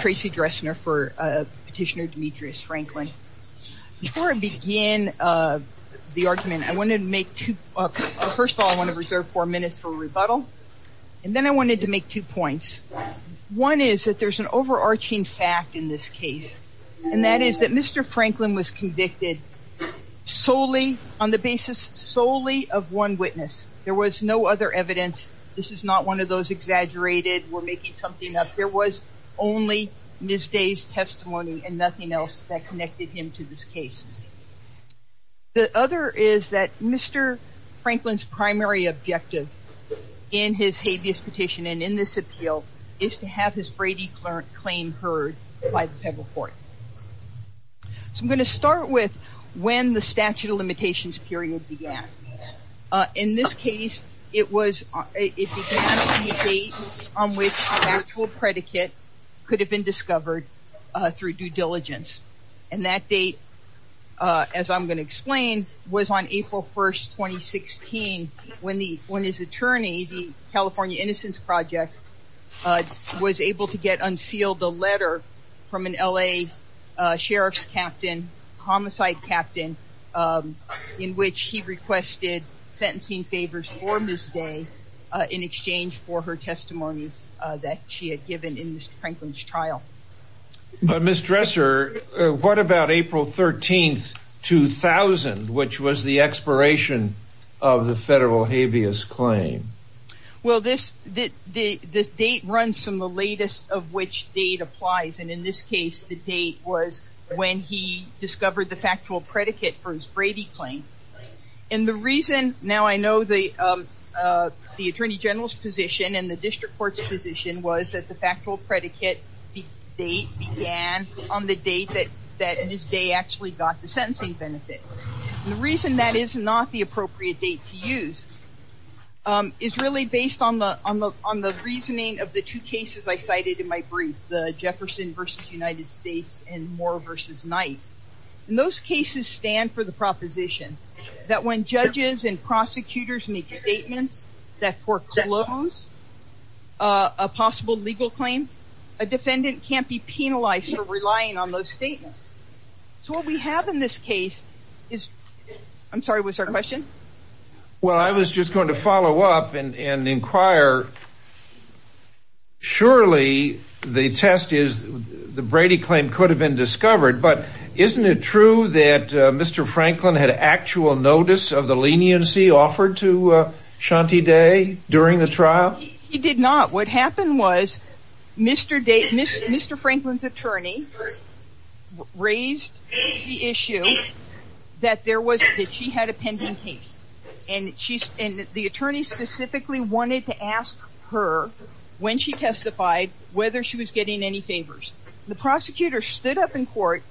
Tracy Dressner for petitioner Demetrius Franklin. Before I begin the argument I wanted to make two, first of all I want to reserve four minutes for rebuttal and then I wanted to make two points. One is that there's an overarching fact in this case and that is that Mr. Franklin was convicted solely on the basis solely of one witness. There was no other evidence. This is not one of those exaggerated we're making something up. There was only Ms. Day's testimony and nothing else that connected him to this case. The other is that Mr. Franklin's primary objective in his habeas petition and in this appeal is to have his Brady claim heard by the federal court. So I'm going to start with when the statute of in this case it was on which actual predicate could have been discovered through due diligence and that date as I'm going to explain was on April 1st 2016 when the when his attorney the California Innocence Project was able to get unsealed a letter from an LA sheriff's captain homicide captain in which he requested sentencing favors for Ms. Day in exchange for her testimony that she had given in Mr. Franklin's trial. But Ms. Dresser what about April 13th 2000 which was the expiration of the federal habeas claim? Well this the date runs from the latest of which date applies and in this case the date was when he discovered the factual predicate for his Brady claim and the reason now I know the the Attorney General's position and the district court's position was that the factual predicate date began on the date that that Ms. Day actually got the sentencing benefit. The reason that is not the appropriate date to use is really based on the on the on the reasoning of the two cases I cited in my versus night. In those cases stand for the proposition that when judges and prosecutors make statements that foreclose a possible legal claim a defendant can't be penalized for relying on those statements. So what we have in this case is I'm sorry what's our question? Well I was just going to follow up and inquire surely the test is the Brady claim could have been discovered but isn't it true that Mr. Franklin had actual notice of the leniency offered to Shanti Day during the trial? He did not what happened was Mr. Franklin's attorney raised the issue that there was that she had a pending case and the attorney specifically wanted to ask her when she court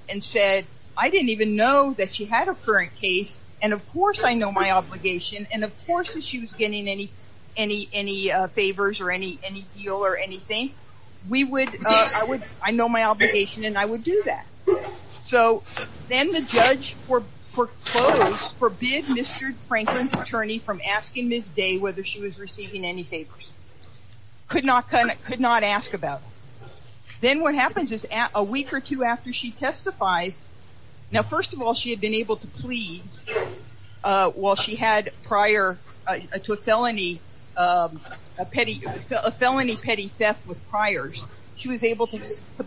and said I didn't even know that she had a current case and of course I know my obligation and of course if she was getting any any any favors or any any deal or anything we would I would I know my obligation and I would do that so then the judge foreclosed forbid Mr. Franklin's attorney from asking Ms. Day whether she was receiving any favors. Could not kind of could not ask about then what happens is at a week or two after she testifies now first of all she had been able to plead while she had prior to a felony petty a felony petty theft with priors she was able to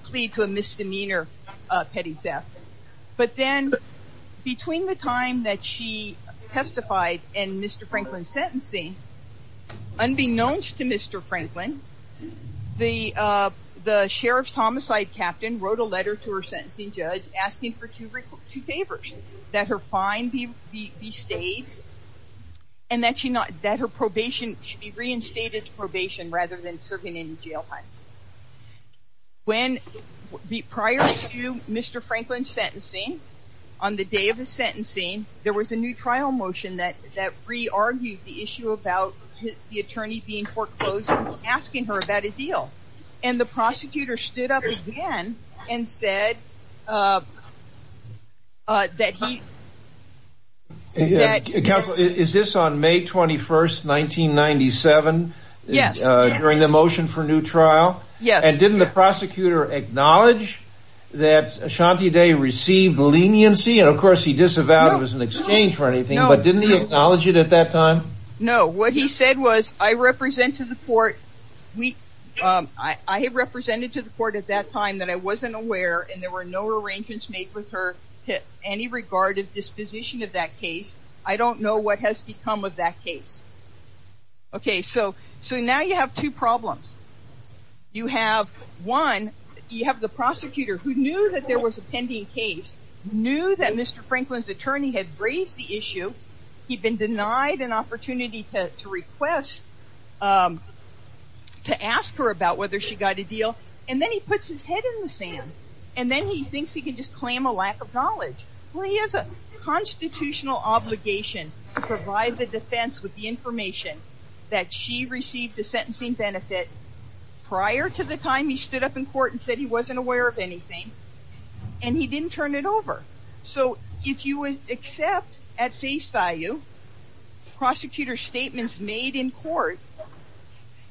plead to a misdemeanor petty theft but then between the time that she testified and Mr. Franklin's sentencing unbeknownst to Mr. Franklin the the sheriff's homicide captain wrote a letter to her sentencing judge asking for two favors that her fine be stayed and that she not that her probation should be reinstated to probation rather than serving in jail time. When prior to Mr. Franklin's sentencing on the day of his sentencing there was a new trial motion that that re-argued the issue about the attorney being foreclosed asking her about a deal and the prosecutor stood up again and said that he is this on May 21st 1997 yes during the motion for new trial yes and didn't the prosecutor acknowledge that Shanti Day received leniency and of course he disavowed it was an exchange for anything but didn't he acknowledge it at that time? No what he said was I represent to the court we I have represented to the court at that time that I wasn't aware and there were no arrangements made with her to any regard of disposition of that case I don't know what has become of that case. Okay so so now you have two problems you have one you have the prosecutor who knew that there was a pending case knew that Mr. Franklin's attorney had raised the issue he'd been denied an opportunity to request to ask her about whether she got a deal and then he puts his head in the sand and then he thinks he can just claim a lack of knowledge well he has a constitutional obligation to provide the defense with the information that she received a sentencing benefit prior to the time he stood up in court and said he wasn't aware of anything and he didn't turn it over so if you would accept at face value prosecutor statements made in court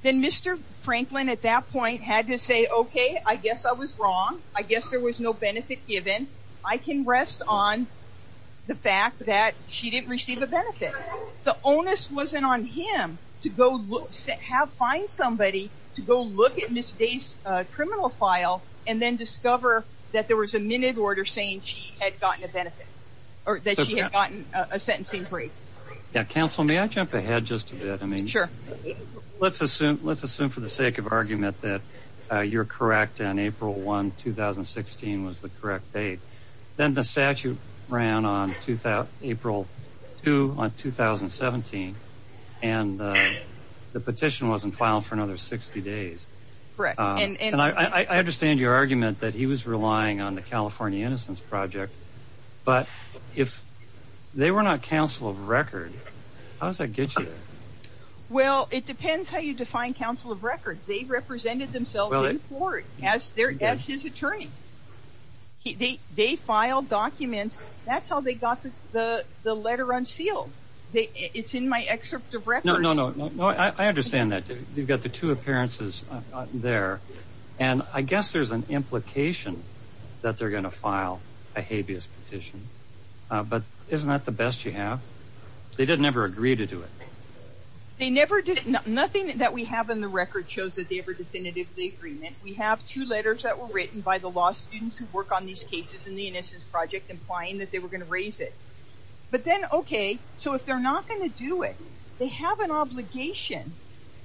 then Mr. Franklin at that point had to say okay I guess I was wrong I guess there was no benefit given I can rest on the fact that she didn't receive a benefit the onus wasn't on him to go look have find somebody to go look at Miss Day's criminal file and then discover that there was a minute order saying she had gotten a benefit or that she had gotten a sentencing brief yeah counsel may I jump ahead just a bit I mean sure let's assume let's assume for the sake of argument that you're correct and April 1 2016 was the correct date then the statute ran on to that April 2 on 2017 and the petition wasn't filed for another 60 days and I understand your argument that he was relying on the California Innocence Project but if they were not counsel of record how does that get you there well it depends how you define counsel of record they represented themselves in court as their as his attorney they they filed documents that's how they got the the letter unsealed it's in my excerpt of record no no no I understand that you've got the two appearances there and I guess there's an implication that they're gonna file a habeas petition but isn't that the best you have they didn't ever agree to do it they never did nothing that we have in the record shows that they were definitively agreement we have two letters that were written by the law students who work on these cases in the Innocence Project implying that they were going to raise it but then okay so if they're not going to do it they have an obligation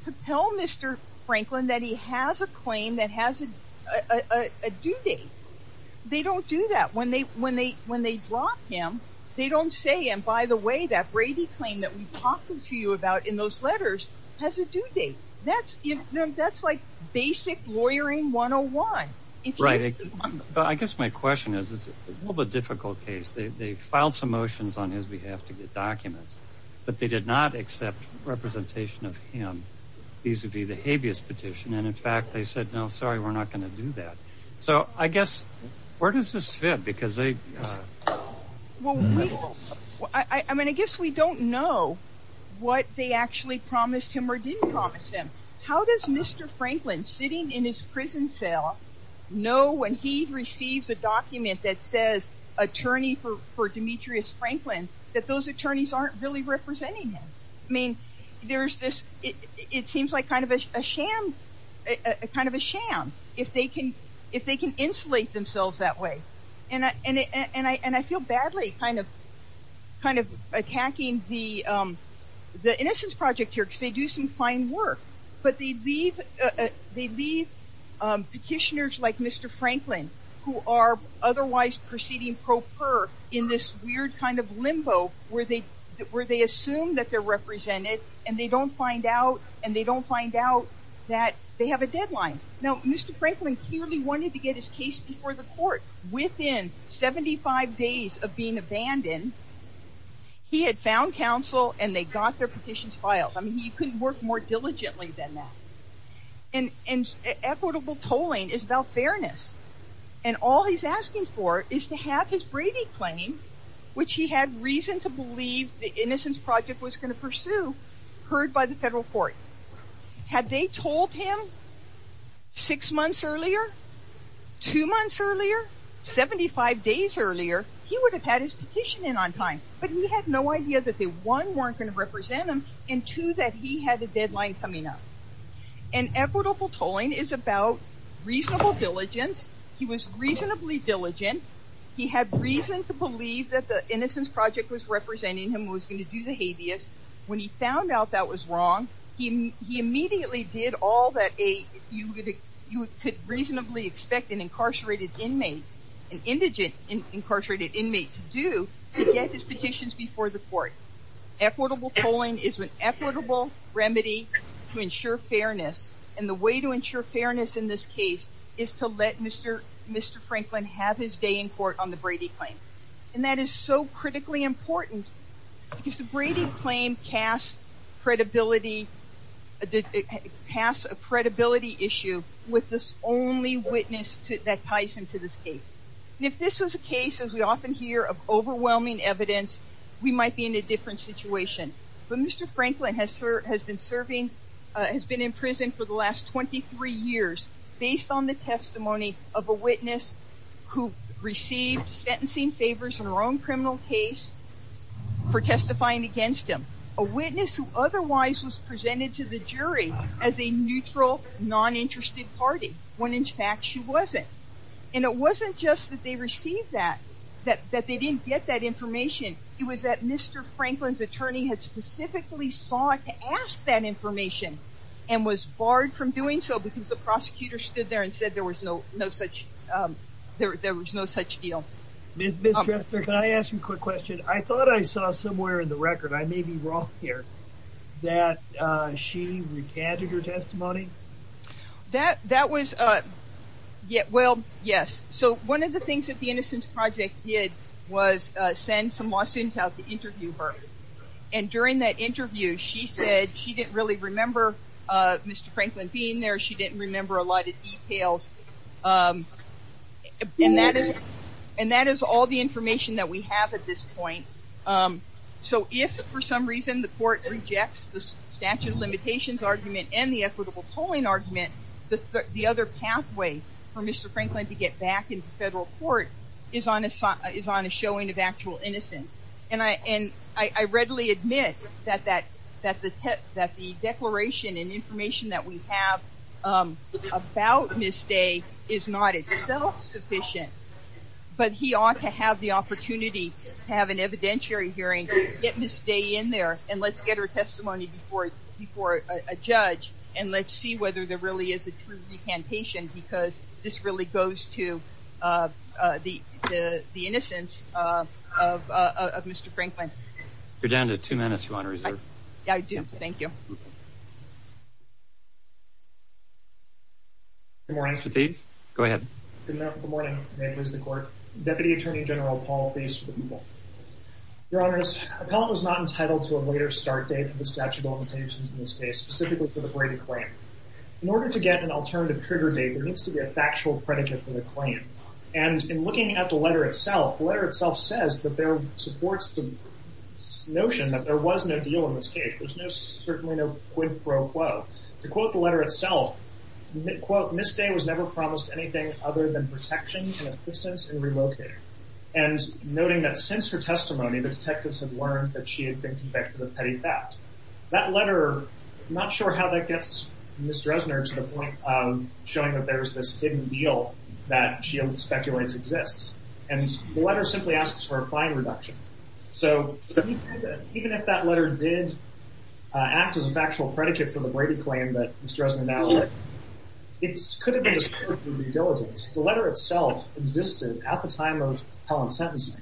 to tell mr. Franklin that he has a claim that has a due date they don't do that when they when they when they brought him they don't say and by the way that Brady claim that we've talked to you about in those letters has a due date that's you know that's like basic lawyering 101 right I guess my question is it's a little bit difficult case they filed some motions on his behalf to get documents but they did not representation of him vis-a-vis the habeas petition and in fact they said no sorry we're not going to do that so I guess where does this fit because they well I mean I guess we don't know what they actually promised him or didn't promise him how does mr. Franklin sitting in his prison cell know when he receives a document that says attorney for for Demetrius Franklin that those attorneys aren't really representing him I mean there's this it seems like kind of a sham a kind of a sham if they can if they can insulate themselves that way and I and I and I feel badly kind of kind of attacking the the innocence project here because they do some fine work but they leave they leave petitioners like mr. Franklin who are otherwise proceeding pro per in this kind of limbo where they where they assume that they're represented and they don't find out and they don't find out that they have a deadline no mr. Franklin clearly wanted to get his case before the court within 75 days of being abandoned he had found counsel and they got their petitions filed I mean he couldn't work more diligently than that and and equitable tolling is about which he had reason to believe the innocence project was going to pursue heard by the federal court had they told him six months earlier two months earlier 75 days earlier he would have had his petition in on time but he had no idea that they one weren't going to represent him and two that he had a deadline coming up and equitable tolling is about reasonable diligence he was innocence project was representing him was going to do the habeas when he found out that was wrong he he immediately did all that a you would you could reasonably expect an incarcerated inmate an indigent incarcerated inmate to do get his petitions before the court equitable tolling is an equitable remedy to ensure fairness and the way to ensure fairness in this case is to let mr. mr. critically important because the Brady claim cast credibility did pass a credibility issue with this only witness to that ties into this case if this was a case as we often hear of overwhelming evidence we might be in a different situation but mr. Franklin has sir has been serving has been in prison for the last 23 years based on the testimony of a witness who received sentencing favors in her own criminal case for testifying against him a witness who otherwise was presented to the jury as a neutral non-interested party when in fact she wasn't and it wasn't just that they received that that that they didn't get that information it was that mr. Franklin's attorney had specifically sought to ask that information and was barred from doing so because the prosecutor stood there and said there was no no such there was no such deal mr. can I ask you a quick question I thought I saw somewhere in the record I may be wrong here that she recanted her testimony that that was uh yeah well yes so one of the things that the innocence project did was send some lawsuits out to interview her and during that interview she said she didn't really remember mr. Franklin being there she didn't remember a lot of details and that is and that is all the information that we have at this point so if for some reason the court rejects the statute of limitations argument and the equitable tolling argument the other pathway for mr. Franklin to get back into federal court is on a sock is on a showing of actual innocence and I and I readily admit that that that the tip that the declaration and information that we have about this day is not it's self-sufficient but he ought to have the opportunity to have an evidentiary hearing get miss day in there and let's get her testimony before before a judge and let's see whether there really is a true recantation because this really goes to the innocence of mr. Franklin you're down to two minutes you want to reserve yeah I do thank you more empathy go ahead good morning was the court deputy attorney general Paul please your honors appellant was not entitled to a later start date for the statute of limitations in this case specifically for the greater claim in order to get an alternative trigger date there needs to be a factual predicate for the claim and in looking at the letter itself the letter itself says that there supports the notion that there was no deal in this case there's no certainly no quid pro quo to quote the letter itself quote miss day was never promised anything other than protection and assistance and relocated and noting that since her testimony the detectives have learned that she had been convicted of petty theft that letter not sure how that gets mr. Esner to the point of showing that there's this hidden deal that she speculates exists and the reduction so even if that letter did act as a factual predicate for the way to claim that mr. Esner now it's could have been the letter itself existed at the time of Colin sentencing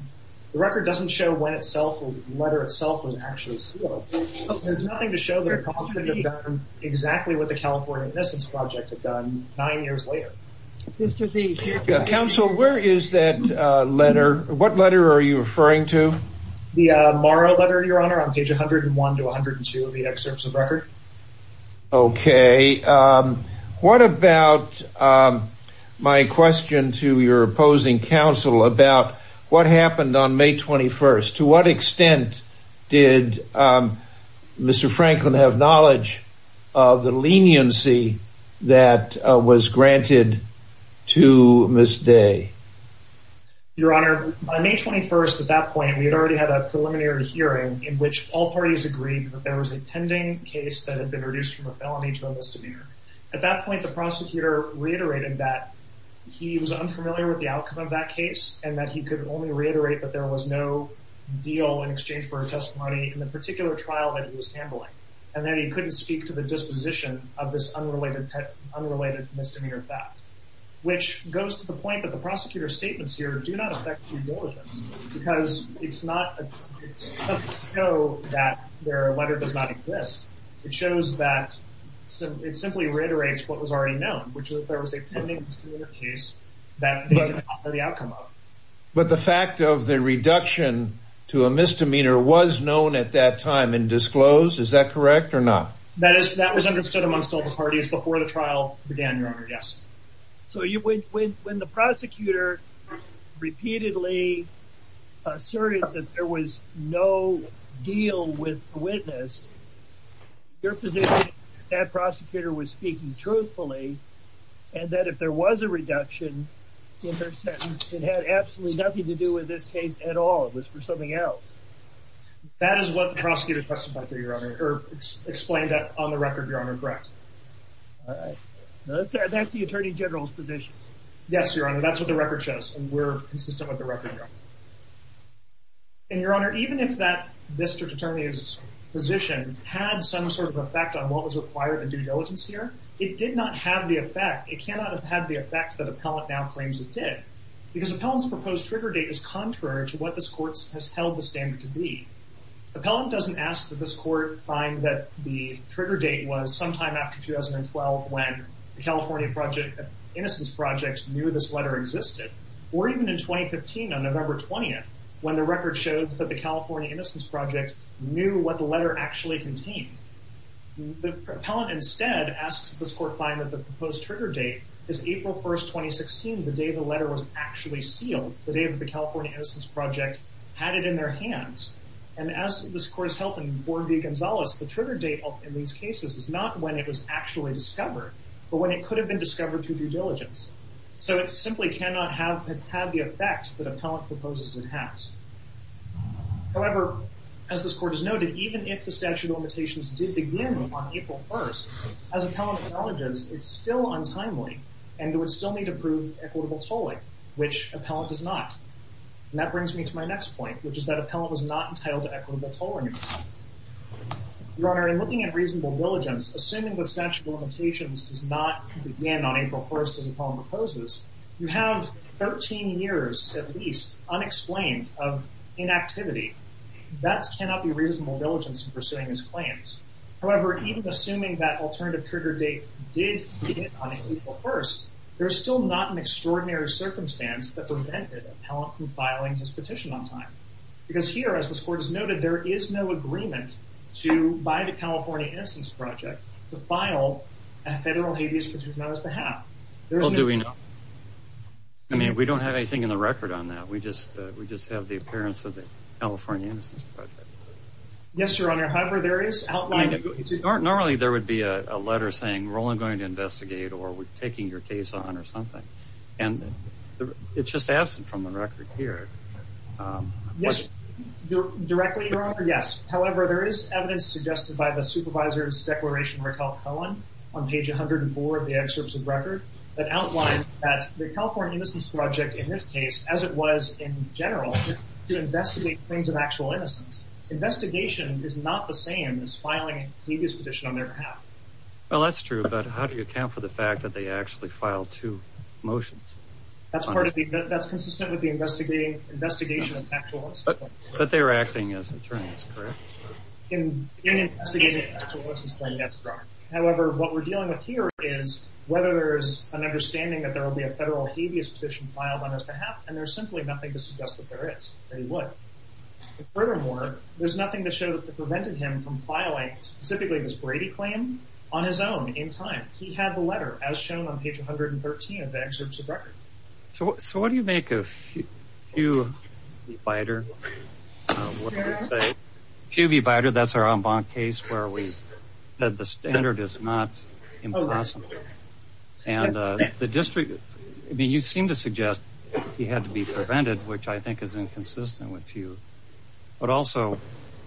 the record doesn't show when itself letter itself was actually there's nothing to show that exactly what the California Innocence Project had done nine years later mr. D council where is that letter what letter are you referring to the moral letter your honor on page 101 to 102 of the excerpts of record okay what about my question to your opposing counsel about what happened on May 21st to what extent did mr. Franklin have of the leniency that was granted to miss day your honor by May 21st at that point we had already had a preliminary hearing in which all parties agreed that there was a pending case that had been reduced from a felony to a misdemeanor at that point the prosecutor reiterated that he was unfamiliar with the outcome of that case and that he could only reiterate that there was no deal in exchange for speak to the disposition of this unrelated unrelated misdemeanor fact which goes to the point that the prosecutor's statements here do not affect you because it's not that their letter does not exist it shows that so it simply reiterates what was already known which is that there was a case that the outcome of but the fact of the reduction to a misdemeanor was known at that time and disclosed is that correct or not that is that was understood amongst all the parties before the trial began your honor yes so you went with when the prosecutor repeatedly asserted that there was no deal with the witness your position that prosecutor was speaking truthfully and that if there was a reduction in their sentence it had absolutely nothing to do with this case at all it was for something else that is what the prosecutor testified to your honor or explained that on the record your honor correct that's the attorney general's position yes your honor that's what the record shows and we're consistent with the record and your honor even if that mr. determine his position had some sort of effect on what was required and due diligence here it did not have the effect it cannot have had the effect that appellant now contrary to what this court has held the standard to be appellant doesn't ask that this court find that the trigger date was sometime after 2012 when the California project innocence projects knew this letter existed or even in 2015 on November 20th when the record shows that the California innocence project knew what the letter actually contained the propellant instead asks this court find that the proposed trigger date is April 1st 2016 the day the letter was actually sealed the day of the California innocence project had it in their hands and as this court is helping board be Gonzales the trigger date in these cases is not when it was actually discovered but when it could have been discovered through due diligence so it simply cannot have had the effect that appellant proposes it has however as this court is noted even if the statute of limitations did begin on April 1st as appellant acknowledges it's still untimely and it would still need to prove equitable tolling which appellant does not and that brings me to my next point which is that appellant was not entitled to equitable tolling your honor in looking at reasonable diligence assuming the statute of limitations does not begin on April 1st as appellant proposes you have 13 years at least unexplained of inactivity that's cannot be reasonable diligence in pursuing his claims however even assuming that alternative trigger date did begin on April 1st there's still not an extraordinary circumstance that prevented appellant from filing his petition on time because here as this court has noted there is no agreement to buy the California innocence project to file a federal habeas petition on his behalf. Well do we know? I mean we don't have anything in the record on that we just we just have the appearance of the California innocence project. Yes your honor however there is outline normally there would be a letter saying we're only going to investigate or we're taking your case on or something and it's just absent from the record here yes directly your honor yes however there is evidence suggested by the supervisor's declaration Raquel Cohen on page 104 of the excerpts of record that outlines that the California innocence project in this case as it was in general to investigate claims of actual innocence investigation is not the same as filing a habeas petition on their behalf. Well that's true but how do you account for the fact that they actually filed two motions? That's part of the that's consistent with the investigating investigation. But they were acting as attorneys correct? However what we're dealing with here is whether there's an understanding that there will be a federal habeas petition filed on his behalf and there's simply nothing to suggest that there is. Furthermore there's nothing to show that prevented him from filing specifically this Brady claim on his own in time. He had the letter as shown on page 113 of the excerpts of record. So what do you make of Hugh Bider? Hugh Bider that's our en banc case where we said the standard is not impossible and the district I mean you seem to suggest he had to be prevented which I think is inconsistent with Hugh. But also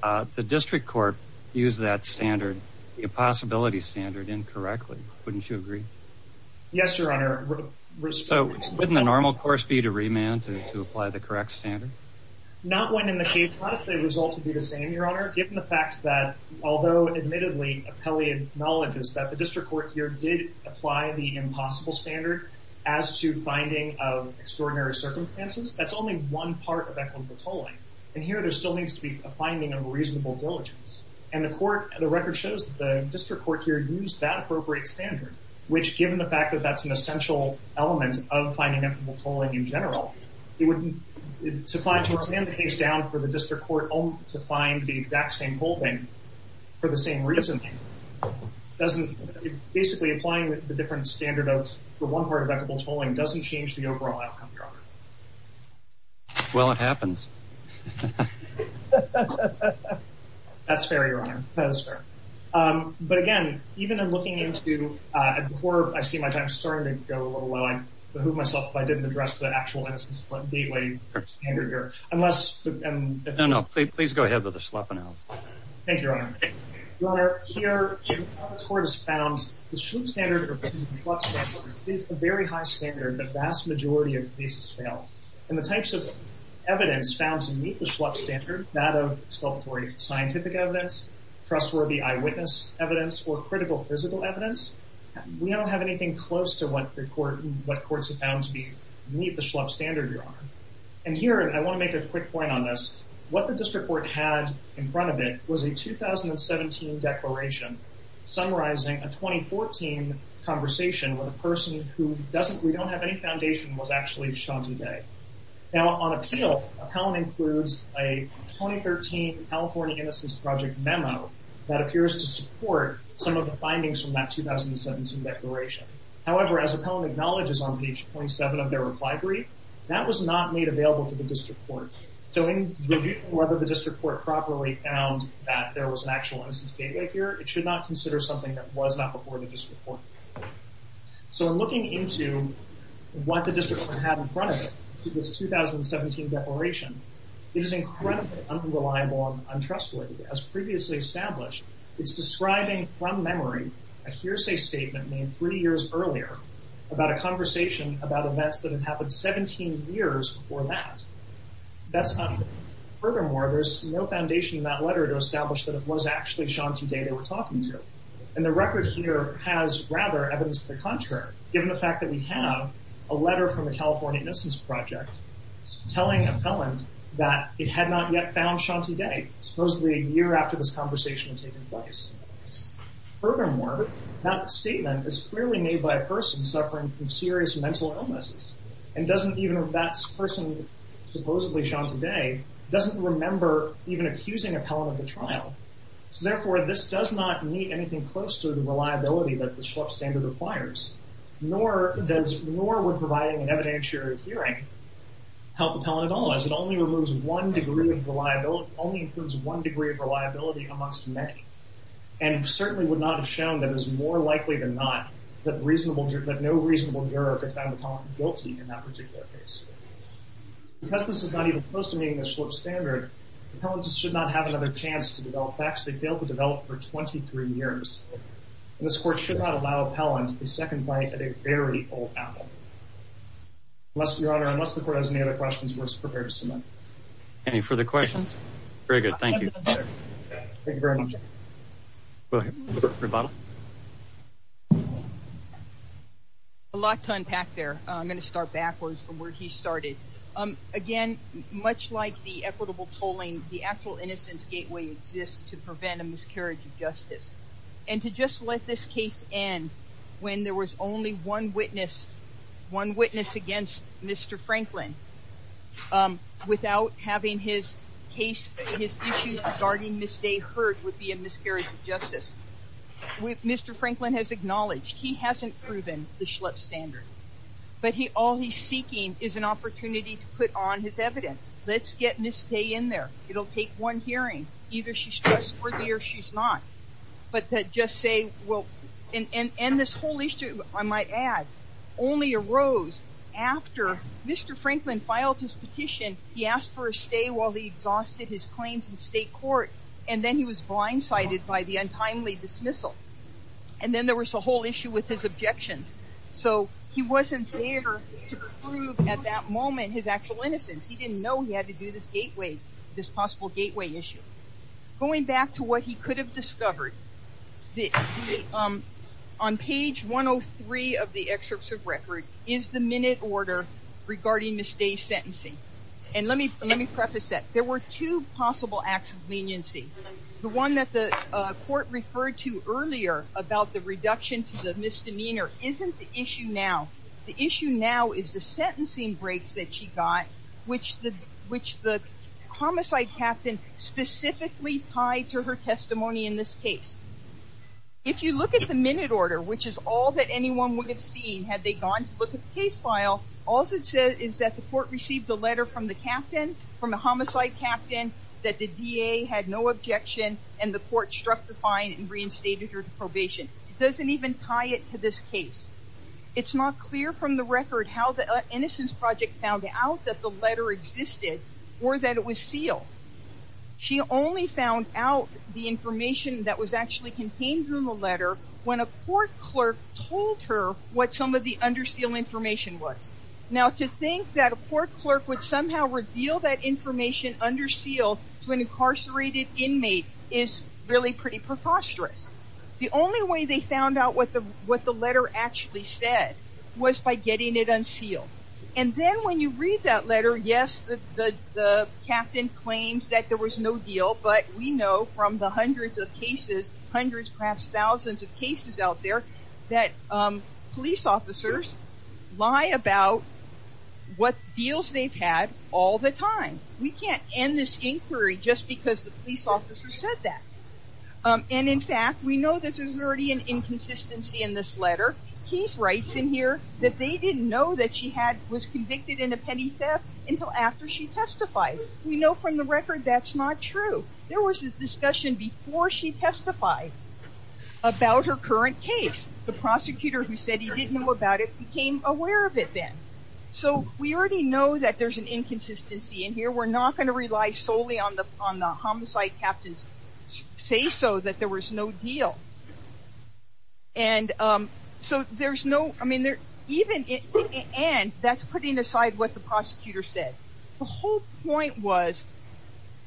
the district court used that standard the impossibility standard incorrectly. Wouldn't you agree? Yes your honor. So wouldn't the normal course be to remand to apply the correct standard? Not when in the case not if the results would be the same your honor. Given the fact that although admittedly Appellee acknowledges that the district court here did apply the impossible standard as to finding of extraordinary circumstances that's only one part of equitable tolling. And here there still needs to be a finding of reasonable diligence and the court and the record shows the district court here used that appropriate standard which given the fact that that's an essential element of finding equitable tolling in general it wouldn't it's applied to a stand the case down for the district court only to find the exact same holding for the same reason. Doesn't basically applying the different standard of one part of equitable tolling doesn't change the overall outcome your honor. Well it happens. That's fair your honor. That is fair. But again even in looking into before I see my time starting to go a little while I behoove myself if I didn't address the actual innocence split gateway standard here. Unless. No no please go ahead with the Schlepp announcement. Thank you your honor. Your honor here the court has found the Schlepp standard is a very high standard the vast majority of cases fail and the types of evidence found to meet the Schlepp standard that of sculptory scientific evidence trustworthy eyewitness evidence or critical physical evidence we don't have anything close to what the court what courts have found to be meet the Schlepp standard your honor. And here I want to make a quick point on this what the district court had in front of it was a 2017 declaration summarizing a 2014 conversation with a person who doesn't we don't have any foundation was actually Shanzi Day. Now on appeal Appellant includes a 2013 California Innocence Project memo that appears to support some of the findings from that 2017 declaration. However as Appellant acknowledges on page 27 of their reply brief that was not made available to the district court. So in reviewing whether the district court properly found that there was an actual innocence gateway here it should not consider something that was not before the district court. So in looking into what the district had in front of it in this 2017 declaration it is incredibly unreliable untrustworthy as previously established it's describing from memory a hearsay statement made three years earlier about a conversation about events that have happened 17 years before that. That's not furthermore there's no foundation in that letter to establish that it was actually Shanzi Day they were talking to and the record here has rather evidence to the contrary given the fact that we have a letter from the California Innocence Project telling Appellant that it had not yet found Shanzi Day supposedly a year after this conversation had taken place. Furthermore that statement is clearly made by a person suffering from serious mental illnesses and doesn't even if that's person supposedly Shanzi Day doesn't remember even accusing Appellant of the trial. So therefore this does not meet anything close to the reliability that the Schlupp standard requires nor does nor would providing an evidentiary hearing help Appellant at all as it only removes one degree of reliability only includes one degree of reliability amongst many and certainly would not have shown that is more likely than not that reasonable that no reasonable juror could find the Appellant guilty in that particular case. Because this is not even close to meeting the Schlupp standard Appellant should not have another chance to develop facts they failed to develop for 23 years. This court should not allow Appellant a second bite at a very old apple. Unless your honor unless the court has any other questions we're just prepared to submit. Any further questions? Very good thank you. A lot to unpack there I'm going to start backwards from where he started. Again much like the equitable tolling the actual innocence gateway exists to prevent a miscarriage of justice and to just let this case end when there was only one witness one witness against Mr. Franklin without having his case his issues regarding Miss Day heard would be a miscarriage of justice. With Mr. Franklin has acknowledged he hasn't proven the Schlupp standard but he all he's seeking is an opportunity to put on his evidence let's get Miss Day in there it'll take one hearing either she's trustworthy or she's not but that just say well and and and this whole issue I might add only arose after Mr. Franklin filed his petition he asked for a stay while he exhausted his claims in state court and then he was blindsided by the untimely dismissal and then there was a whole issue with his objections so he wasn't there at that moment his actual innocence he didn't know he had to do this gateway this possible gateway issue going back to what he could have discovered on page 103 of the excerpts of record is the minute order regarding Miss Day's sentencing and let me let me preface that there were two possible acts of leniency the one that the court referred to earlier about the reduction to the misdemeanor isn't the issue now the issue now is the sentencing breaks that she got which the which the homicide captain specifically tied to her testimony in this case if you look at the minute order which is all that anyone would have seen had they gone to look at the case file all it said is that the court received a letter from the captain from a homicide captain that the DA had no objection and the court struck the fine and reinstated her to probation it doesn't even tie it to this case it's not clear from the record how the innocence project found out that the letter existed or that it was sealed she only found out the information that was actually contained in the letter when a court clerk told her what some of the under seal information was now to think that a court clerk would somehow reveal that information under seal to an incarcerated inmate is really pretty preposterous the only way they found out what the what the letter actually said was by getting it unsealed and then when you read that letter yes the captain claims that there was no deal but we know from the hundreds of cases hundreds perhaps thousands of cases out there that police officers lie about what deals they've had all the time we can't end this inquiry just because the police officer said that and in fact we know this is already an inconsistency in this letter he's writes in here that they didn't know that she had was convicted in a petty theft until after she testified we know from the record that's not true there was a discussion before she testified about her current case the prosecutor who said he didn't know about it became aware of it then so we already know that there's an inconsistency in here we're not going to rely solely on the on the homicide captains say so that there was no deal and so there's no I what the prosecutor said the whole point was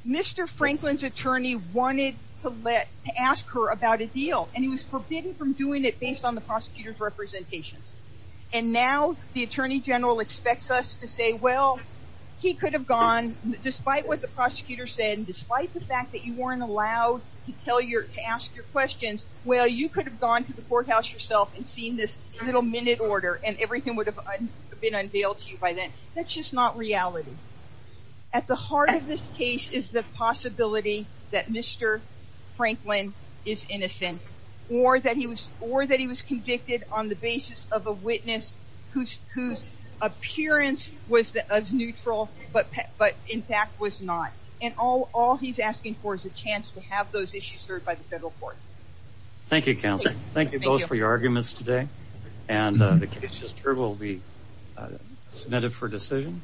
mr. Franklin's attorney wanted to let to ask her about a deal and he was forbidden from doing it based on the prosecutors representations and now the Attorney General expects us to say well he could have gone despite what the prosecutor said despite the fact that you weren't allowed to tell your to ask your questions well you could have gone to the courthouse yourself and seen this little minute order and everything would have been unveiled to you by then that's just not reality at the heart of this case is the possibility that mr. Franklin is innocent or that he was or that he was convicted on the basis of a witness whose whose appearance was that as neutral but but in fact was not and all all he's asking for is a chance to have those issues heard by the federal court thank you counsel thank you both for your arguments today and the case will be submitted for decision